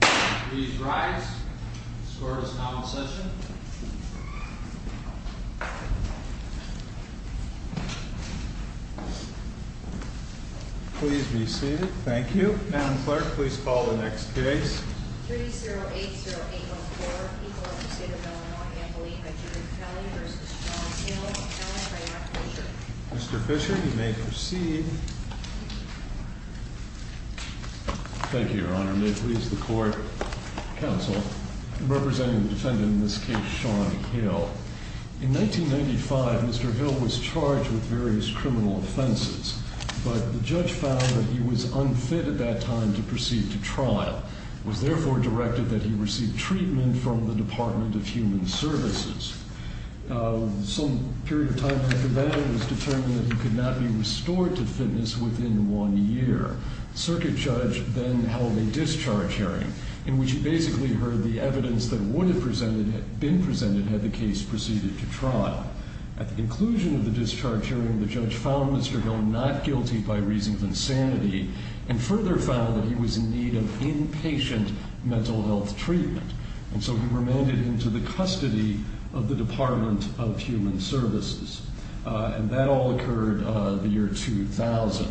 Please rise. The score is now in session. Please be seated. Thank you. Madam Clerk, please call the next case. 3-0-8-0-8-0-4. Equal Interstate of Illinois Ambulee by Judith Kelly v. John Hill. Mr. Fisher, you may proceed. Thank you, Your Honor. May it please the Court, Counsel, representing the defendant in this case, Sean Hill. In 1995, Mr. Hill was charged with various criminal offenses, but the judge found that he was unfit at that time to proceed to trial. It was therefore directed that he receive treatment from the Department of Human Services. Some period of time after that, it was determined that he could not be restored to fitness within one year. The circuit judge then held a discharge hearing in which he basically heard the evidence that would have been presented had the case proceeded to trial. At the conclusion of the discharge hearing, the judge found Mr. Hill not guilty by reasons of insanity and further found that he was in need of inpatient mental health treatment. And so he remanded him to the custody of the Department of Human Services. And that all occurred the year 2000.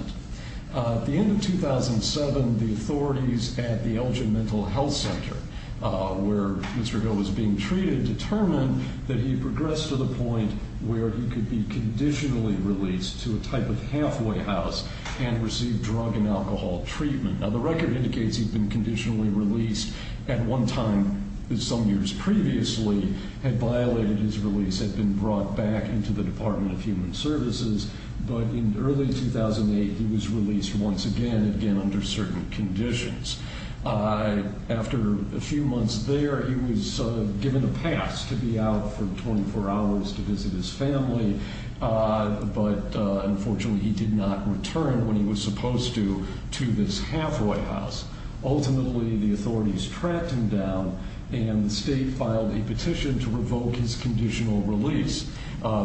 At the end of 2007, the authorities at the Elgin Mental Health Center, where Mr. Hill was being treated, determined that he progressed to the point where he could be conditionally released to a type of halfway house and receive drug and alcohol treatment. Now, the record indicates he had been conditionally released at one time some years previously, had violated his release, had been brought back into the Department of Human Services. But in early 2008, he was released once again, again under certain conditions. After a few months there, he was given a pass to be out for 24 hours to visit his family. But unfortunately, he did not return when he was supposed to to this halfway house. Ultimately, the authorities tracked him down and the state filed a petition to revoke his conditional release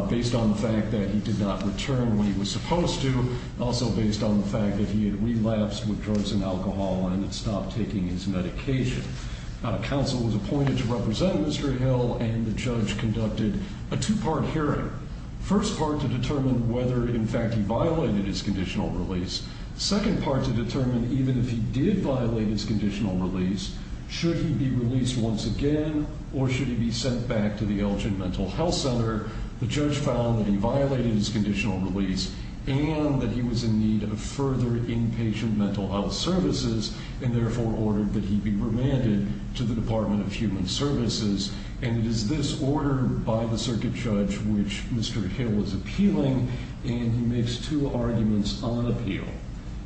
based on the fact that he did not return when he was supposed to, also based on the fact that he had relapsed with drugs and alcohol and had stopped taking his medication. Now, counsel was appointed to represent Mr. Hill and the judge conducted a two-part hearing. First part to determine whether, in fact, he violated his conditional release. Second part to determine even if he did violate his conditional release, should he be released once again or should he be sent back to the Elgin Mental Health Center? The judge found that he violated his conditional release and that he was in need of further inpatient mental health services and therefore ordered that he be remanded to the Department of Human Services. And it is this order by the circuit judge which Mr. Hill is appealing and he makes two arguments on appeal.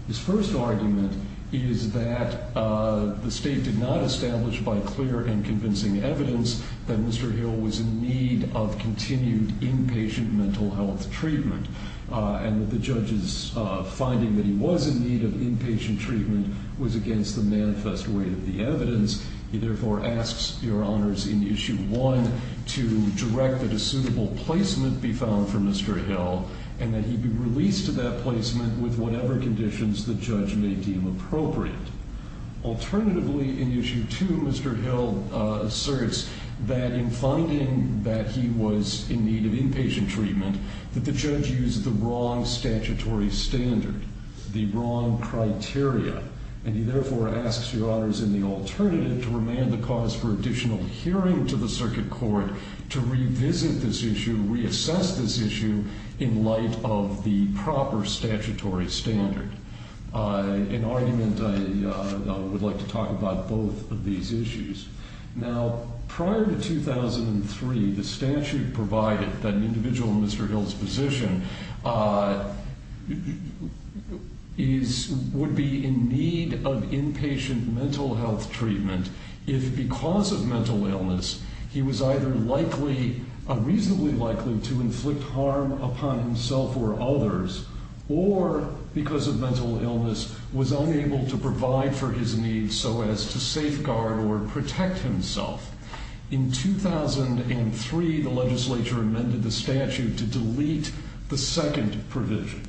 His first argument is that the state did not establish by clear and convincing evidence that Mr. Hill was in need of continued inpatient mental health treatment and that the judge's finding that he was in need of inpatient treatment was against the manifest way of the evidence. He therefore asks your honors in issue one to direct that a suitable placement be found for Mr. Hill and that he be released to that placement with whatever conditions the judge may deem appropriate. Alternatively, in issue two, Mr. Hill asserts that in finding that he was in need of inpatient treatment, that the judge used the wrong statutory standard, the wrong criteria. And he therefore asks your honors in the alternative to remand the cause for additional hearing to the circuit court to revisit this issue, reassess this issue in light of the proper statutory standard. In argument, I would like to talk about both of these issues. Now, prior to 2003, the statute provided that an individual in Mr. Hill's position would be in need of inpatient mental health treatment if because of mental illness he was either reasonably likely to inflict harm upon himself or others or because of mental illness was unable to provide for his needs so as to safeguard or protect himself. In 2003, the legislature amended the statute to delete the second provision.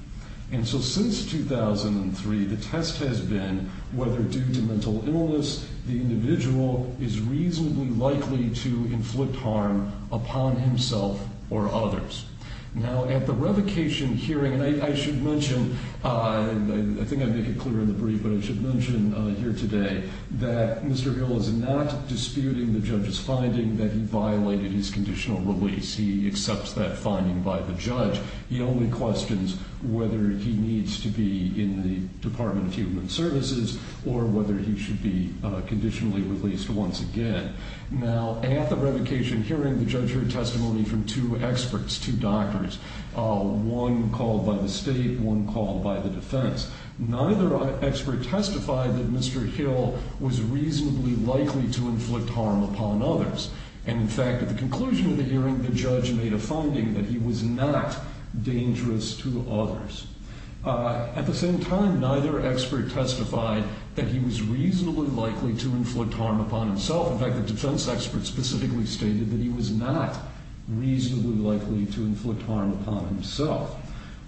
And so since 2003, the test has been whether due to mental illness, the individual is reasonably likely to inflict harm upon himself or others. Now, at the revocation hearing, I should mention, I think I made it clear in the brief, but I should mention here today that Mr. Hill is not disputing the judge's finding that he violated his conditional release. He accepts that finding by the judge. He only questions whether he needs to be in the Department of Human Services or whether he should be conditionally released once again. Now, at the revocation hearing, the judge heard testimony from two experts, two doctors, one called by the state, one called by the defense. Neither expert testified that Mr. Hill was reasonably likely to inflict harm upon others. And in fact, at the conclusion of the hearing, the judge made a finding that he was not dangerous to others. At the same time, neither expert testified that he was reasonably likely to inflict harm upon himself. In fact, the defense expert specifically stated that he was not reasonably likely to inflict harm upon himself.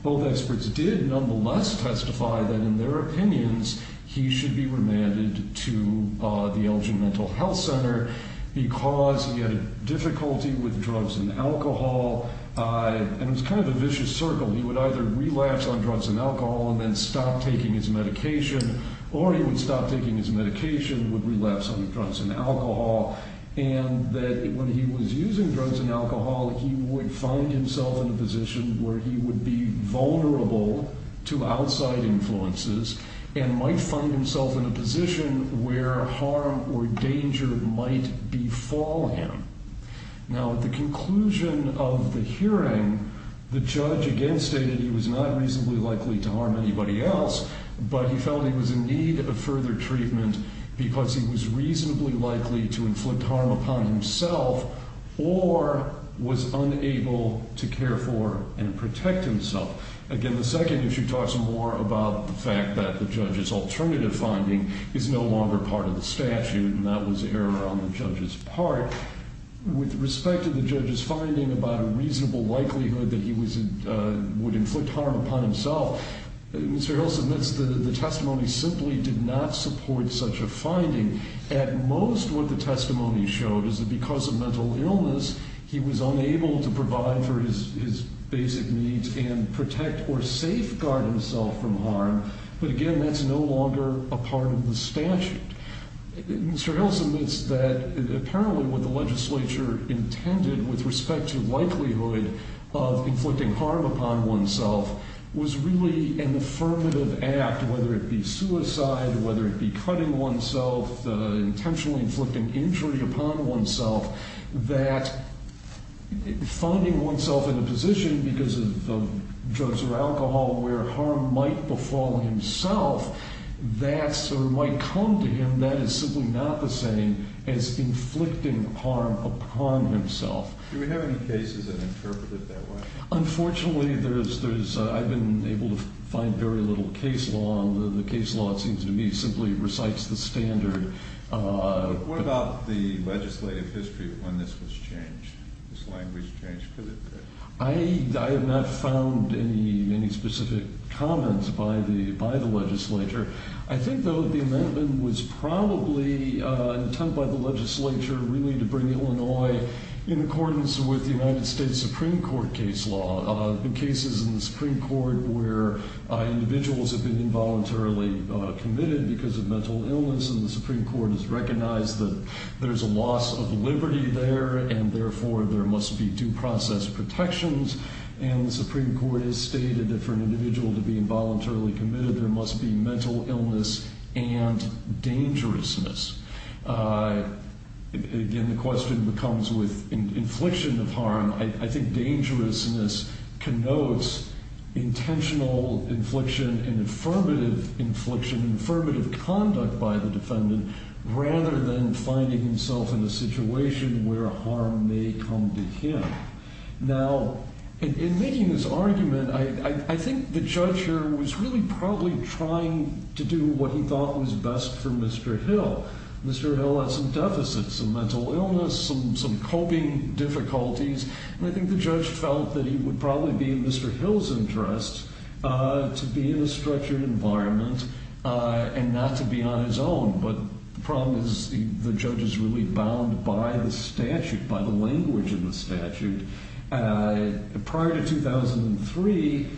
Both experts did nonetheless testify that, in their opinions, he should be remanded to the Elgin Mental Health Center because he had difficulty with drugs and alcohol, and it was kind of a vicious circle. He would either relapse on drugs and alcohol and then stop taking his medication, or he would stop taking his medication, would relapse on drugs and alcohol, and that when he was using drugs and alcohol, he would find himself in a position where he would be vulnerable to outside influences and might find himself in a position where harm or danger might befall him. Now, at the conclusion of the hearing, the judge again stated he was not reasonably likely to harm anybody else, but he felt he was in need of further treatment because he was reasonably likely to inflict harm upon himself or was unable to care for and protect himself. Again, the second issue talks more about the fact that the judge's alternative finding is no longer part of the statute, and that was error on the judge's part. With respect to the judge's finding about a reasonable likelihood that he would inflict harm upon himself, Mr. Hills admits the testimony simply did not support such a finding. At most, what the testimony showed is that because of mental illness, he was unable to provide for his basic needs and protect or safeguard himself from harm, but again, that's no longer a part of the statute. Mr. Hills admits that apparently what the legislature intended with respect to likelihood of inflicting harm upon oneself was really an affirmative act, whether it be suicide, whether it be cutting oneself, intentionally inflicting injury upon oneself, that finding oneself in a position because of drugs or alcohol where harm might befall himself, that sort of might come to him that is simply not the same as inflicting harm upon himself. Do we have any cases that interpret it that way? Unfortunately, I've been able to find very little case law. The case law, it seems to me, simply recites the standard. What about the legislative history when this was changed, this language changed? I have not found any specific comments by the legislature. I think, though, the amendment was probably intended by the legislature really to bring Illinois in accordance with the United States Supreme Court case law, the cases in the Supreme Court where individuals have been involuntarily committed because of mental illness and the Supreme Court has recognized that there's a loss of liberty there and therefore there must be due process protections, and the Supreme Court has stated that for an individual to be involuntarily committed, there must be mental illness and dangerousness. Again, the question comes with infliction of harm. I think dangerousness connotes intentional infliction and affirmative infliction, affirmative conduct by the defendant rather than finding himself in a situation where harm may come to him. Now, in making this argument, I think the judge here was really probably trying to do what he thought was best for Mr. Hill. Mr. Hill had some deficits, some mental illness, some coping difficulties, and I think the judge felt that he would probably be in Mr. Hill's interest to be in a structured environment and not to be on his own, but the problem is the judge is really bound by the statute, by the language in the statute. Prior to 2003,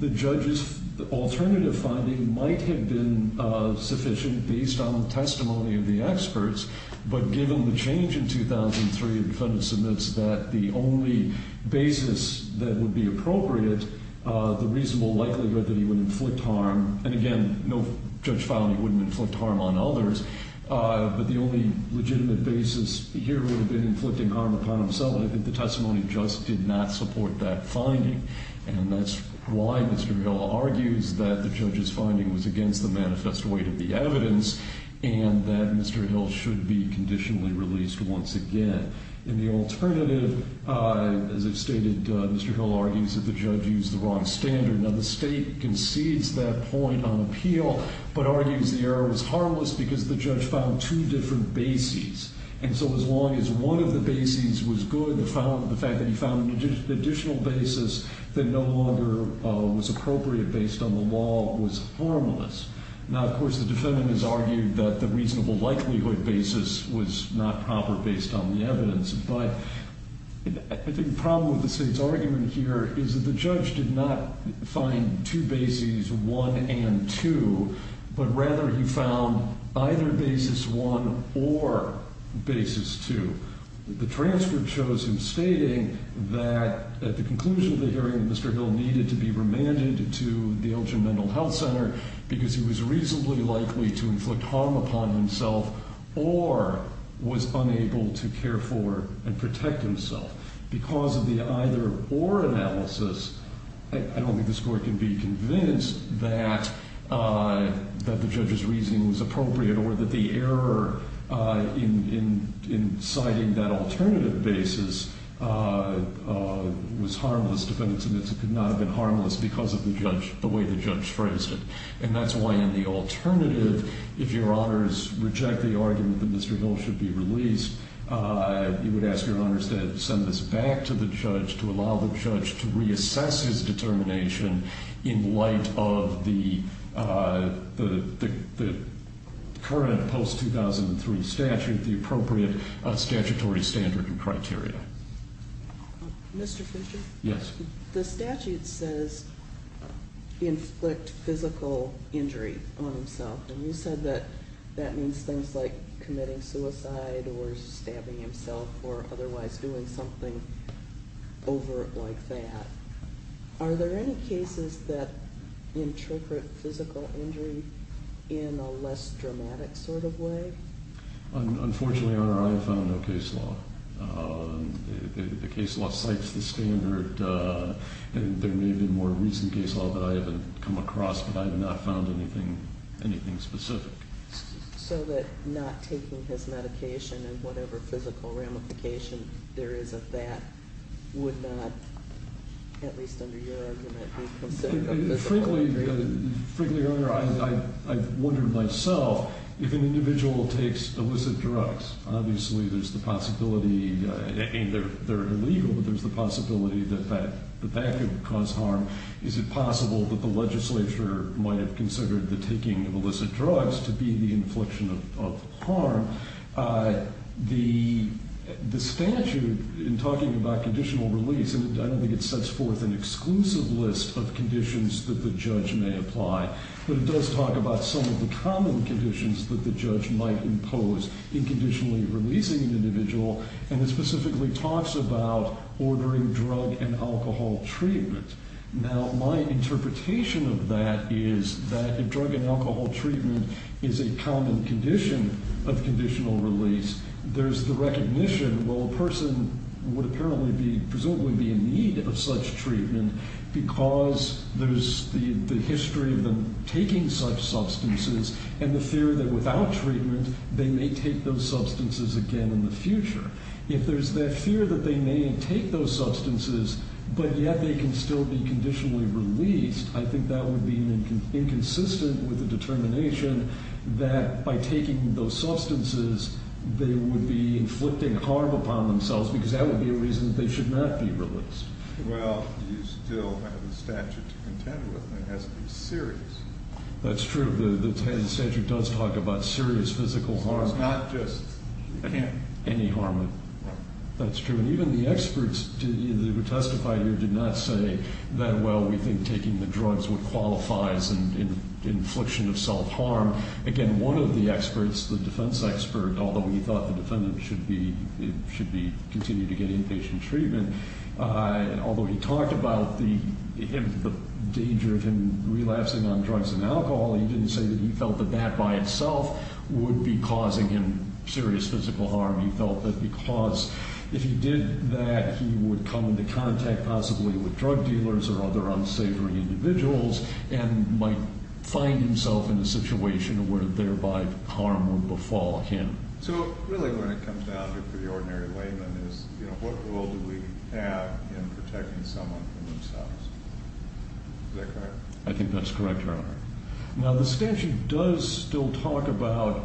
the judge's alternative finding might have been sufficient based on the testimony of the experts, but given the change in 2003, the defendant submits that the only basis that would be appropriate, the reasonable likelihood that he would inflict harm, and again, no judge found he wouldn't inflict harm on others, but the only legitimate basis here would have been inflicting harm upon himself, and I think the testimony just did not support that finding, and that's why Mr. Hill argues that the judge's finding was against the manifest way to be evidence and that Mr. Hill should be conditionally released once again. In the alternative, as I've stated, Mr. Hill argues that the judge used the wrong standard. Now, the state concedes that point on appeal, but argues the error was harmless because the judge found two different bases, and so as long as one of the bases was good, the fact that he found an additional basis that no longer was appropriate based on the law was harmless. Now, of course, the defendant has argued that the reasonable likelihood basis was not proper based on the evidence, but I think the problem with the state's argument here is that the judge did not find two bases, one and two, but rather he found either basis one or basis two. The transcript shows him stating that at the conclusion of the hearing, Mr. Hill needed to be remanded to the Elgin Mental Health Center because he was reasonably likely to inflict harm upon himself or was unable to care for and protect himself. Because of the either-or analysis, I don't think the court can be convinced that the judge's reasoning was appropriate or that the error in citing that alternative basis was harmless. Defendants admits it could not have been harmless because of the way the judge phrased it, and that's why in the alternative, if your honors reject the argument that Mr. Hill should be released, you would ask your honors to send this back to the judge to allow the judge to reassess his determination in light of the current post-2003 statute, the appropriate statutory standard and criteria. Mr. Fisher? Yes. The statute says inflict physical injury on himself, and you said that that means things like committing suicide or stabbing himself or otherwise doing something overt like that. Are there any cases that interpret physical injury in a less dramatic sort of way? Unfortunately, Your Honor, I have found no case law. The case law cites the standard, and there may be more recent case law that I haven't come across, but I have not found anything specific. So that not taking his medication and whatever physical ramification there is of that would not, at least under your argument, be considered a physical injury? Frankly, Your Honor, I've wondered myself if an individual takes illicit drugs, obviously there's the possibility, and they're illegal, but there's the possibility that that could cause harm. Is it possible that the legislature might have considered the taking of illicit drugs to be the infliction of harm? The statute, in talking about conditional release, and I don't think it sets forth an exclusive list of conditions that the judge may apply, but it does talk about some of the common conditions that the judge might impose in conditionally releasing an individual, and it specifically talks about ordering drug and alcohol treatment. Now, my interpretation of that is that if drug and alcohol treatment is a common condition of conditional release, there's the recognition, well, a person would apparently be, presumably be in need of such treatment because there's the history of them taking such substances and the fear that without treatment they may take those substances again in the future. If there's that fear that they may take those substances, but yet they can still be conditionally released, I think that would be inconsistent with the determination that by taking those substances, they would be inflicting harm upon themselves because that would be a reason that they should not be released. Well, you still have the statute to contend with, and it has to be serious. That's true. The statute does talk about serious physical harm. It's not just any harm. That's true. And even the experts who testified here did not say that, well, we think taking the drugs would qualify as an infliction of self-harm. Again, one of the experts, the defense expert, although he thought the defendant should be continued to get inpatient treatment, although he talked about the danger of him relapsing on drugs and alcohol, he didn't say that he felt that that by itself would be causing him serious physical harm. He felt that because if he did that, he would come into contact possibly with drug dealers or other unsavory individuals and might find himself in a situation where thereby harm would befall him. So really when it comes down to the ordinary layman is, you know, what role do we have in protecting someone from themselves? Is that correct? I think that's correct, Your Honor. Now, the statute does still talk about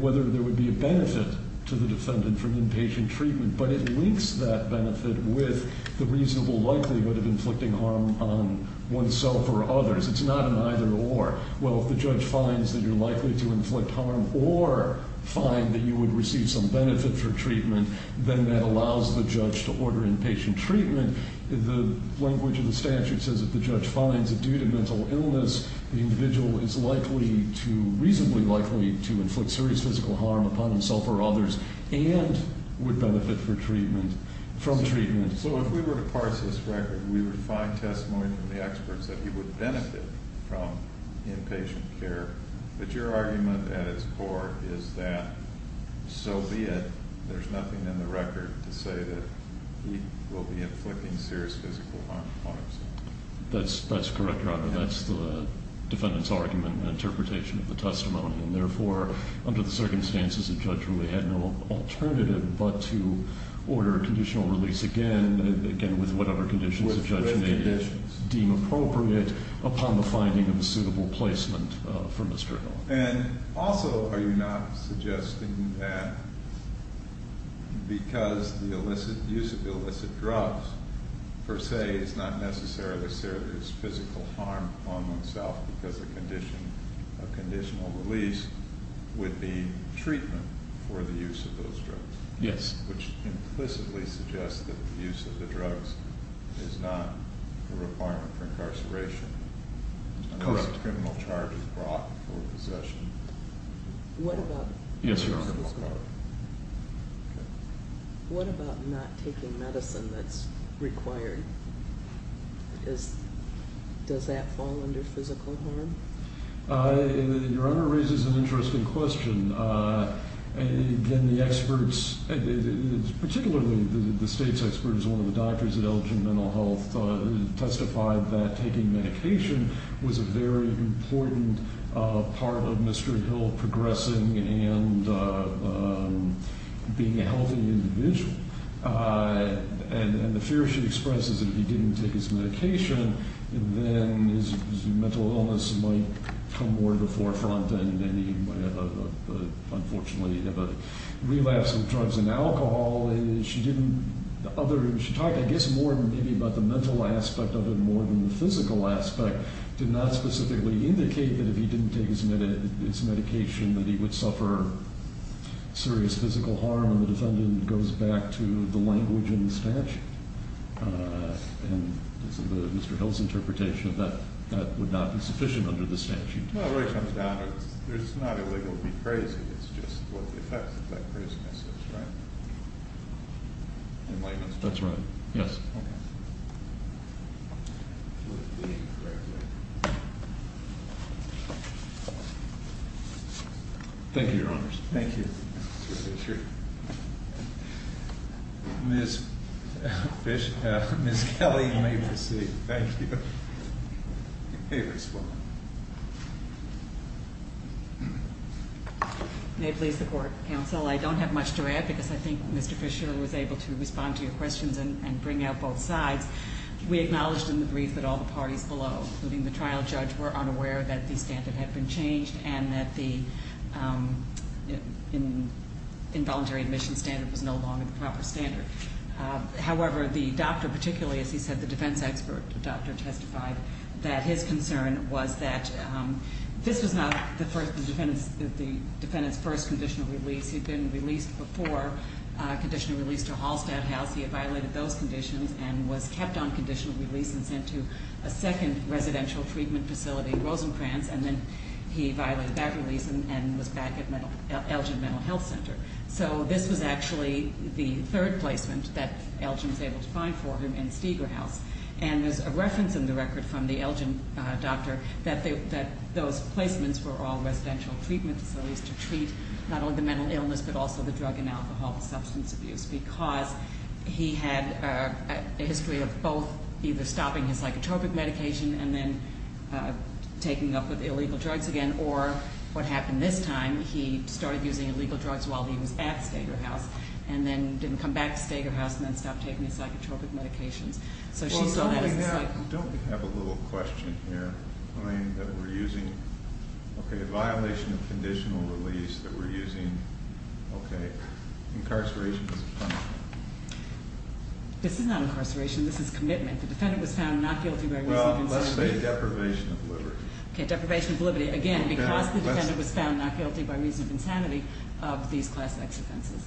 whether there would be a benefit to the defendant from inpatient treatment, but it links that benefit with the reasonable likelihood of inflicting harm on oneself or others. It's not an either or. Well, if the judge finds that you're likely to inflict harm or find that you would receive some benefit for treatment, then that allows the judge to order inpatient treatment. The language of the statute says if the judge finds that due to mental illness, the individual is likely to, reasonably likely, to inflict serious physical harm upon himself or others and would benefit from treatment. So if we were to parse this record, we would find testimony from the experts that he would benefit from inpatient care, but your argument at its core is that so be it. There's nothing in the record to say that he will be inflicting serious physical harm upon himself. That's correct, Your Honor. That's the defendant's argument and interpretation of the testimony, and therefore, under the circumstances, the judge really had no alternative but to order conditional release again, again, with whatever conditions the judge may deem appropriate upon the finding of a suitable placement for Mr. Hill. And also, are you not suggesting that because the illicit use of illicit drugs, per se, is not necessarily serious physical harm upon oneself because a conditional release would be treatment for the use of those drugs? Yes. Which implicitly suggests that the use of the drugs is not a requirement for incarceration. Correct. Unless a criminal charge is brought for possession. Yes, Your Honor. What about not taking medicine that's required? Does that fall under physical harm? Your Honor raises an interesting question. Again, the experts, particularly the state's experts, one of the doctors at Elgin Mental Health, testified that taking medication was a very important part of Mr. Hill progressing and being a healthy individual. And the fear she expresses is that if he didn't take his medication, then his mental illness might come more to the forefront and he might unfortunately have a relapse of drugs and alcohol. She talked, I guess, more about the mental aspect of it more than the physical aspect. It did not specifically indicate that if he didn't take his medication that he would suffer serious physical harm. And the defendant goes back to the language in the statute. And Mr. Hill's interpretation that that would not be sufficient under the statute. Well, it really comes down to it's not illegal to be crazy. It's just what the effect of that craziness is, right? In layman's terms. That's right. Yes. Okay. Thank you, Your Honors. Thank you, Mr. Fisher. Ms. Kelly, you may proceed. Thank you. Hey, Ms. Foreman. May it please the Court, Counsel, I don't have much to add because I think Mr. Fisher was able to respond to your questions and bring out both sides. We acknowledged in the brief that all the parties below, including the trial judge, were unaware that the standard had been changed and that the involuntary admission standard was no longer the proper standard. However, the doctor, particularly, as he said, the defense expert doctor testified that his concern was that this was not the defendant's first conditional release. He'd been released before, a conditional release to Hallstatt House. He had violated those conditions and was kept on conditional release and sent to a second residential treatment facility, Rosencrantz. And then he violated that release and was back at Elgin Mental Health Center. So this was actually the third placement that Elgin was able to find for him in Steger House. And there's a reference in the record from the Elgin doctor that those placements were all residential treatment facilities to treat not only the mental illness but also the drug and alcohol and substance abuse because he had a history of both either stopping his psychotropic medication and then taking up with illegal drugs again or, what happened this time, he started using illegal drugs while he was at Steger House and then didn't come back to Steger House and then stopped taking his psychotropic medications. So she saw that as a cycle. Well, don't we have a little question here, Elaine, that we're using? Okay, a violation of conditional release that we're using. Okay. Incarceration as a punishment. This is not incarceration. This is commitment. The defendant was found not guilty by reason of insanity. Well, let's say deprivation of liberty. Okay, deprivation of liberty. Again, because the defendant was found not guilty by reason of insanity of these class X offenses.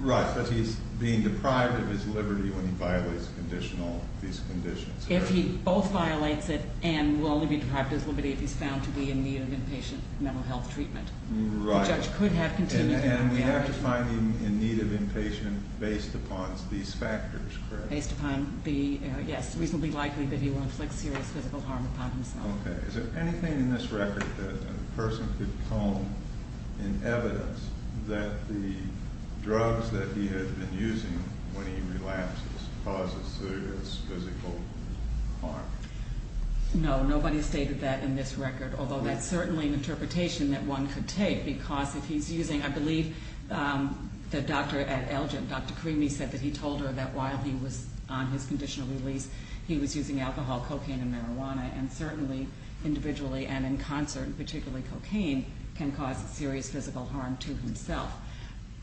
Right, but he's being deprived of his liberty when he violates conditional, these conditions. If he both violates it and will only be deprived of his liberty if he's found to be in need of inpatient mental health treatment. Right. The judge could have continued. And we have to find him in need of inpatient based upon these factors, correct? Based upon the, yes, reasonably likely that he will inflict serious physical harm upon himself. Okay. Is there anything in this record that a person could come in evidence that the drugs that he had been using when he relapses causes serious physical harm? No, nobody has stated that in this record, although that's certainly an interpretation that one could take, because if he's using, I believe the doctor at Elgin, Dr. Creamy, said that he told her that while he was on his conditional release, he was using alcohol, cocaine, and marijuana. And certainly individually and in concert, particularly cocaine, can cause serious physical harm to himself.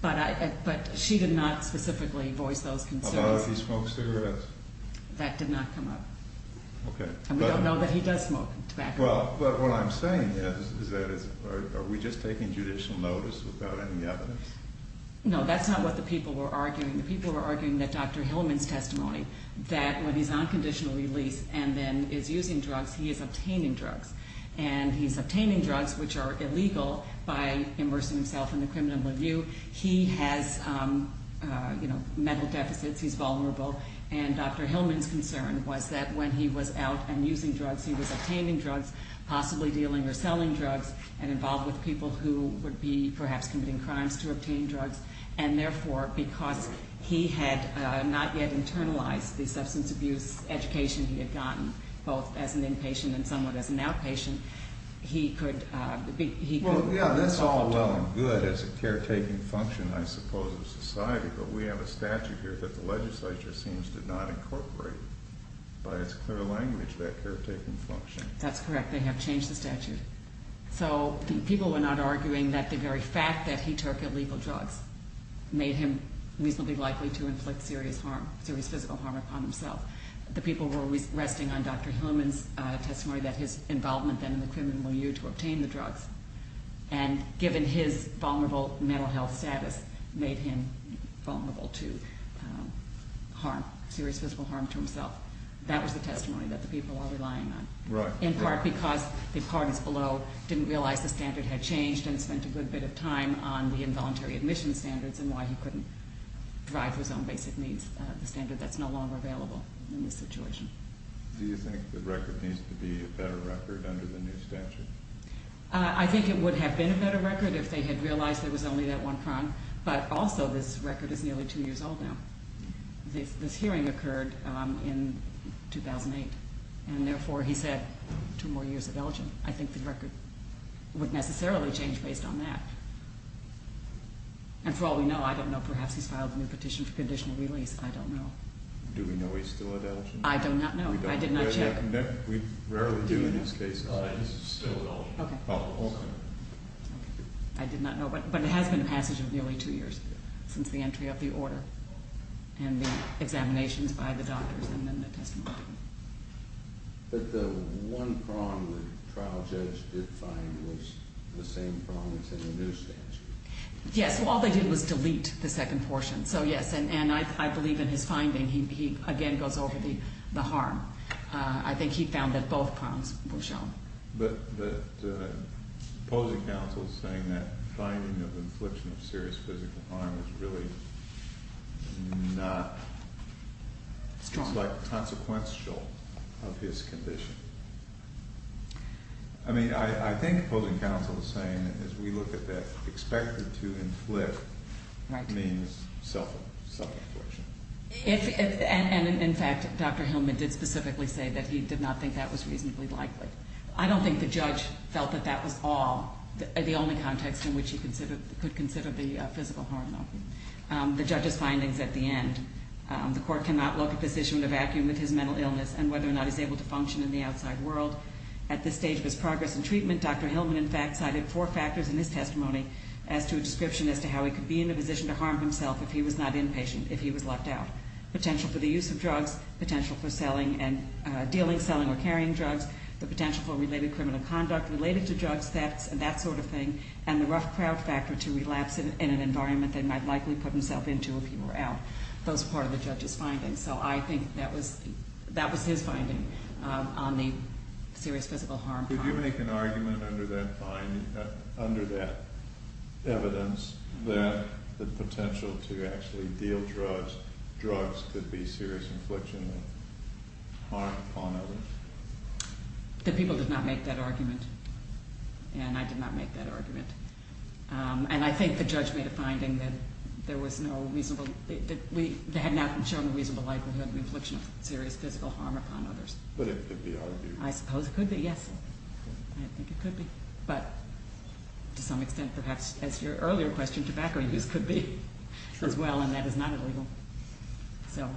But she did not specifically voice those concerns. How about if he smoked cigarettes? That did not come up. Okay. And we don't know that he does smoke tobacco. Well, but what I'm saying is that are we just taking judicial notice without any evidence? No, that's not what the people were arguing. The people were arguing that Dr. Hillman's testimony, that when he's on conditional release and then is using drugs, he is obtaining drugs. And he's obtaining drugs which are illegal by immersing himself in the criminal review. He has, you know, mental deficits. He's vulnerable. And Dr. Hillman's concern was that when he was out and using drugs, he was obtaining drugs, possibly dealing or selling drugs, and involved with people who would be perhaps committing crimes to obtain drugs. And therefore, because he had not yet internalized the substance abuse education he had gotten, both as an inpatient and somewhat as an outpatient, he could be involved. Well, yeah, that's all well and good as a caretaking function, I suppose, of society. But we have a statute here that the legislature seems to not incorporate. By its clear language, that caretaking function. That's correct. They have changed the statute. So people were not arguing that the very fact that he took illegal drugs made him reasonably likely to inflict serious harm, serious physical harm upon himself. The people were resting on Dr. Hillman's testimony that his involvement then in the criminal review to obtain the drugs, and given his vulnerable mental health status, made him vulnerable to harm, serious physical harm to himself. That was the testimony that the people are relying on. Right. In part because the parties below didn't realize the standard had changed and spent a good bit of time on the involuntary admission standards and why he couldn't drive his own basic needs, the standard that's no longer available in this situation. Do you think the record needs to be a better record under the new statute? I think it would have been a better record if they had realized there was only that one crime. But also, this record is nearly two years old now. This hearing occurred in 2008. And therefore, he said two more years of Elgin. I think the record would necessarily change based on that. And for all we know, I don't know. Perhaps he's filed a new petition for conditional release. I don't know. Do we know he's still at Elgin? I do not know. I did not check. We rarely do in these cases. He's still at Elgin. Okay. Oh, okay. I did not know. But it has been the passage of nearly two years since the entry of the order and the examinations by the doctors and then the testimony. But the one crime the trial judge did find was the same crime as in the new statute. Yes. All they did was delete the second portion. So, yes. And I believe in his finding. He, again, goes over the harm. I think he found that both crimes were shown. But opposing counsel is saying that finding of infliction of serious physical harm is really not consequential of his condition. I mean, I think opposing counsel is saying that as we look at that, expected to inflict means self-infliction. And, in fact, Dr. Hillman did specifically say that he did not think that was reasonably likely. I don't think the judge felt that that was all, the only context in which he could consider the physical harm, though. The judge's findings at the end, the court cannot look at this issue in a vacuum with his mental illness and whether or not he's able to function in the outside world. At this stage of his progress in treatment, Dr. Hillman, in fact, cited four factors in his testimony as to a description as to how he could be in a position to harm himself if he was not inpatient, if he was left out. Potential for the use of drugs, potential for dealing, selling, or carrying drugs, the potential for related criminal conduct related to drugs, that sort of thing, and the rough crowd factor to relapse in an environment that he might likely put himself into if he were out. Those are part of the judge's findings. So I think that was his finding on the serious physical harm. Could you make an argument under that finding, under that evidence, that the potential to actually deal drugs, drugs could be serious infliction of harm upon others? The people did not make that argument, and I did not make that argument. And I think the judge made a finding that there was no reasonable, that they had not shown a reasonable likelihood of the infliction of serious physical harm upon others. But it could be argued. I suppose it could be, yes. I think it could be. But to some extent, perhaps, as your earlier question, tobacco use could be as well, and that is not illegal. So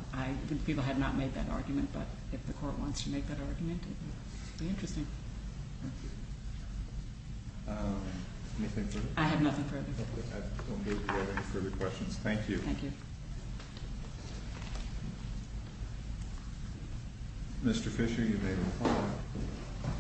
the people had not made that argument, but if the court wants to make that argument, it would be interesting. Anything further? I have nothing further. Okay. I don't believe we have any further questions. Thank you. Thank you. Mr. Fisher, you may reply.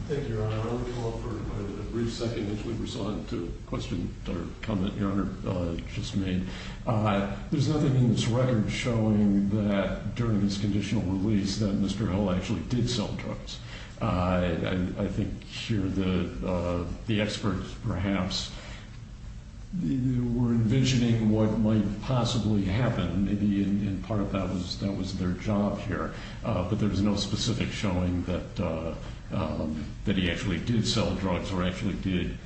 Thank you, Your Honor. I want to call for a brief second as we respond to a question or comment Your Honor just made. There's nothing in this record showing that during this conditional release that Mr. Hill actually did sell drugs. I think here the experts perhaps were envisioning what might possibly happen and part of that was their job here. But there's no specific showing that he actually did sell drugs or actually did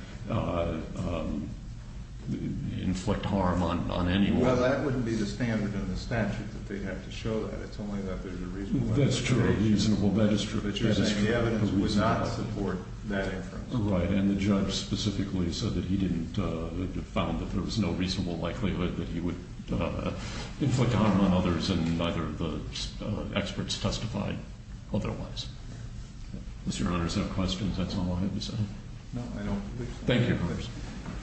inflict harm on anyone. Well, that wouldn't be the standard in the statute that they'd have to show that. It's only that there's a reasonable expectation. That's true. But you're saying the evidence would not support that inference. Right. And the judge specifically said that he found that there was no reasonable likelihood that he would inflict harm on others and neither of the experts testified otherwise. Does Your Honor have questions? That's all I have to say. No, I don't believe so. Thank you, Your Honor.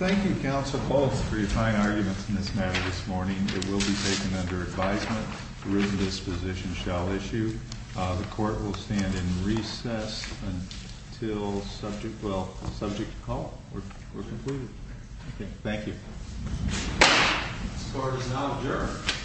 Thank you, Counsel. Both for your fine arguments in this matter this morning. It will be taken under advisement. The written disposition shall issue. The court will stand in recess until subject call or concluded. Thank you. This court is now adjourned.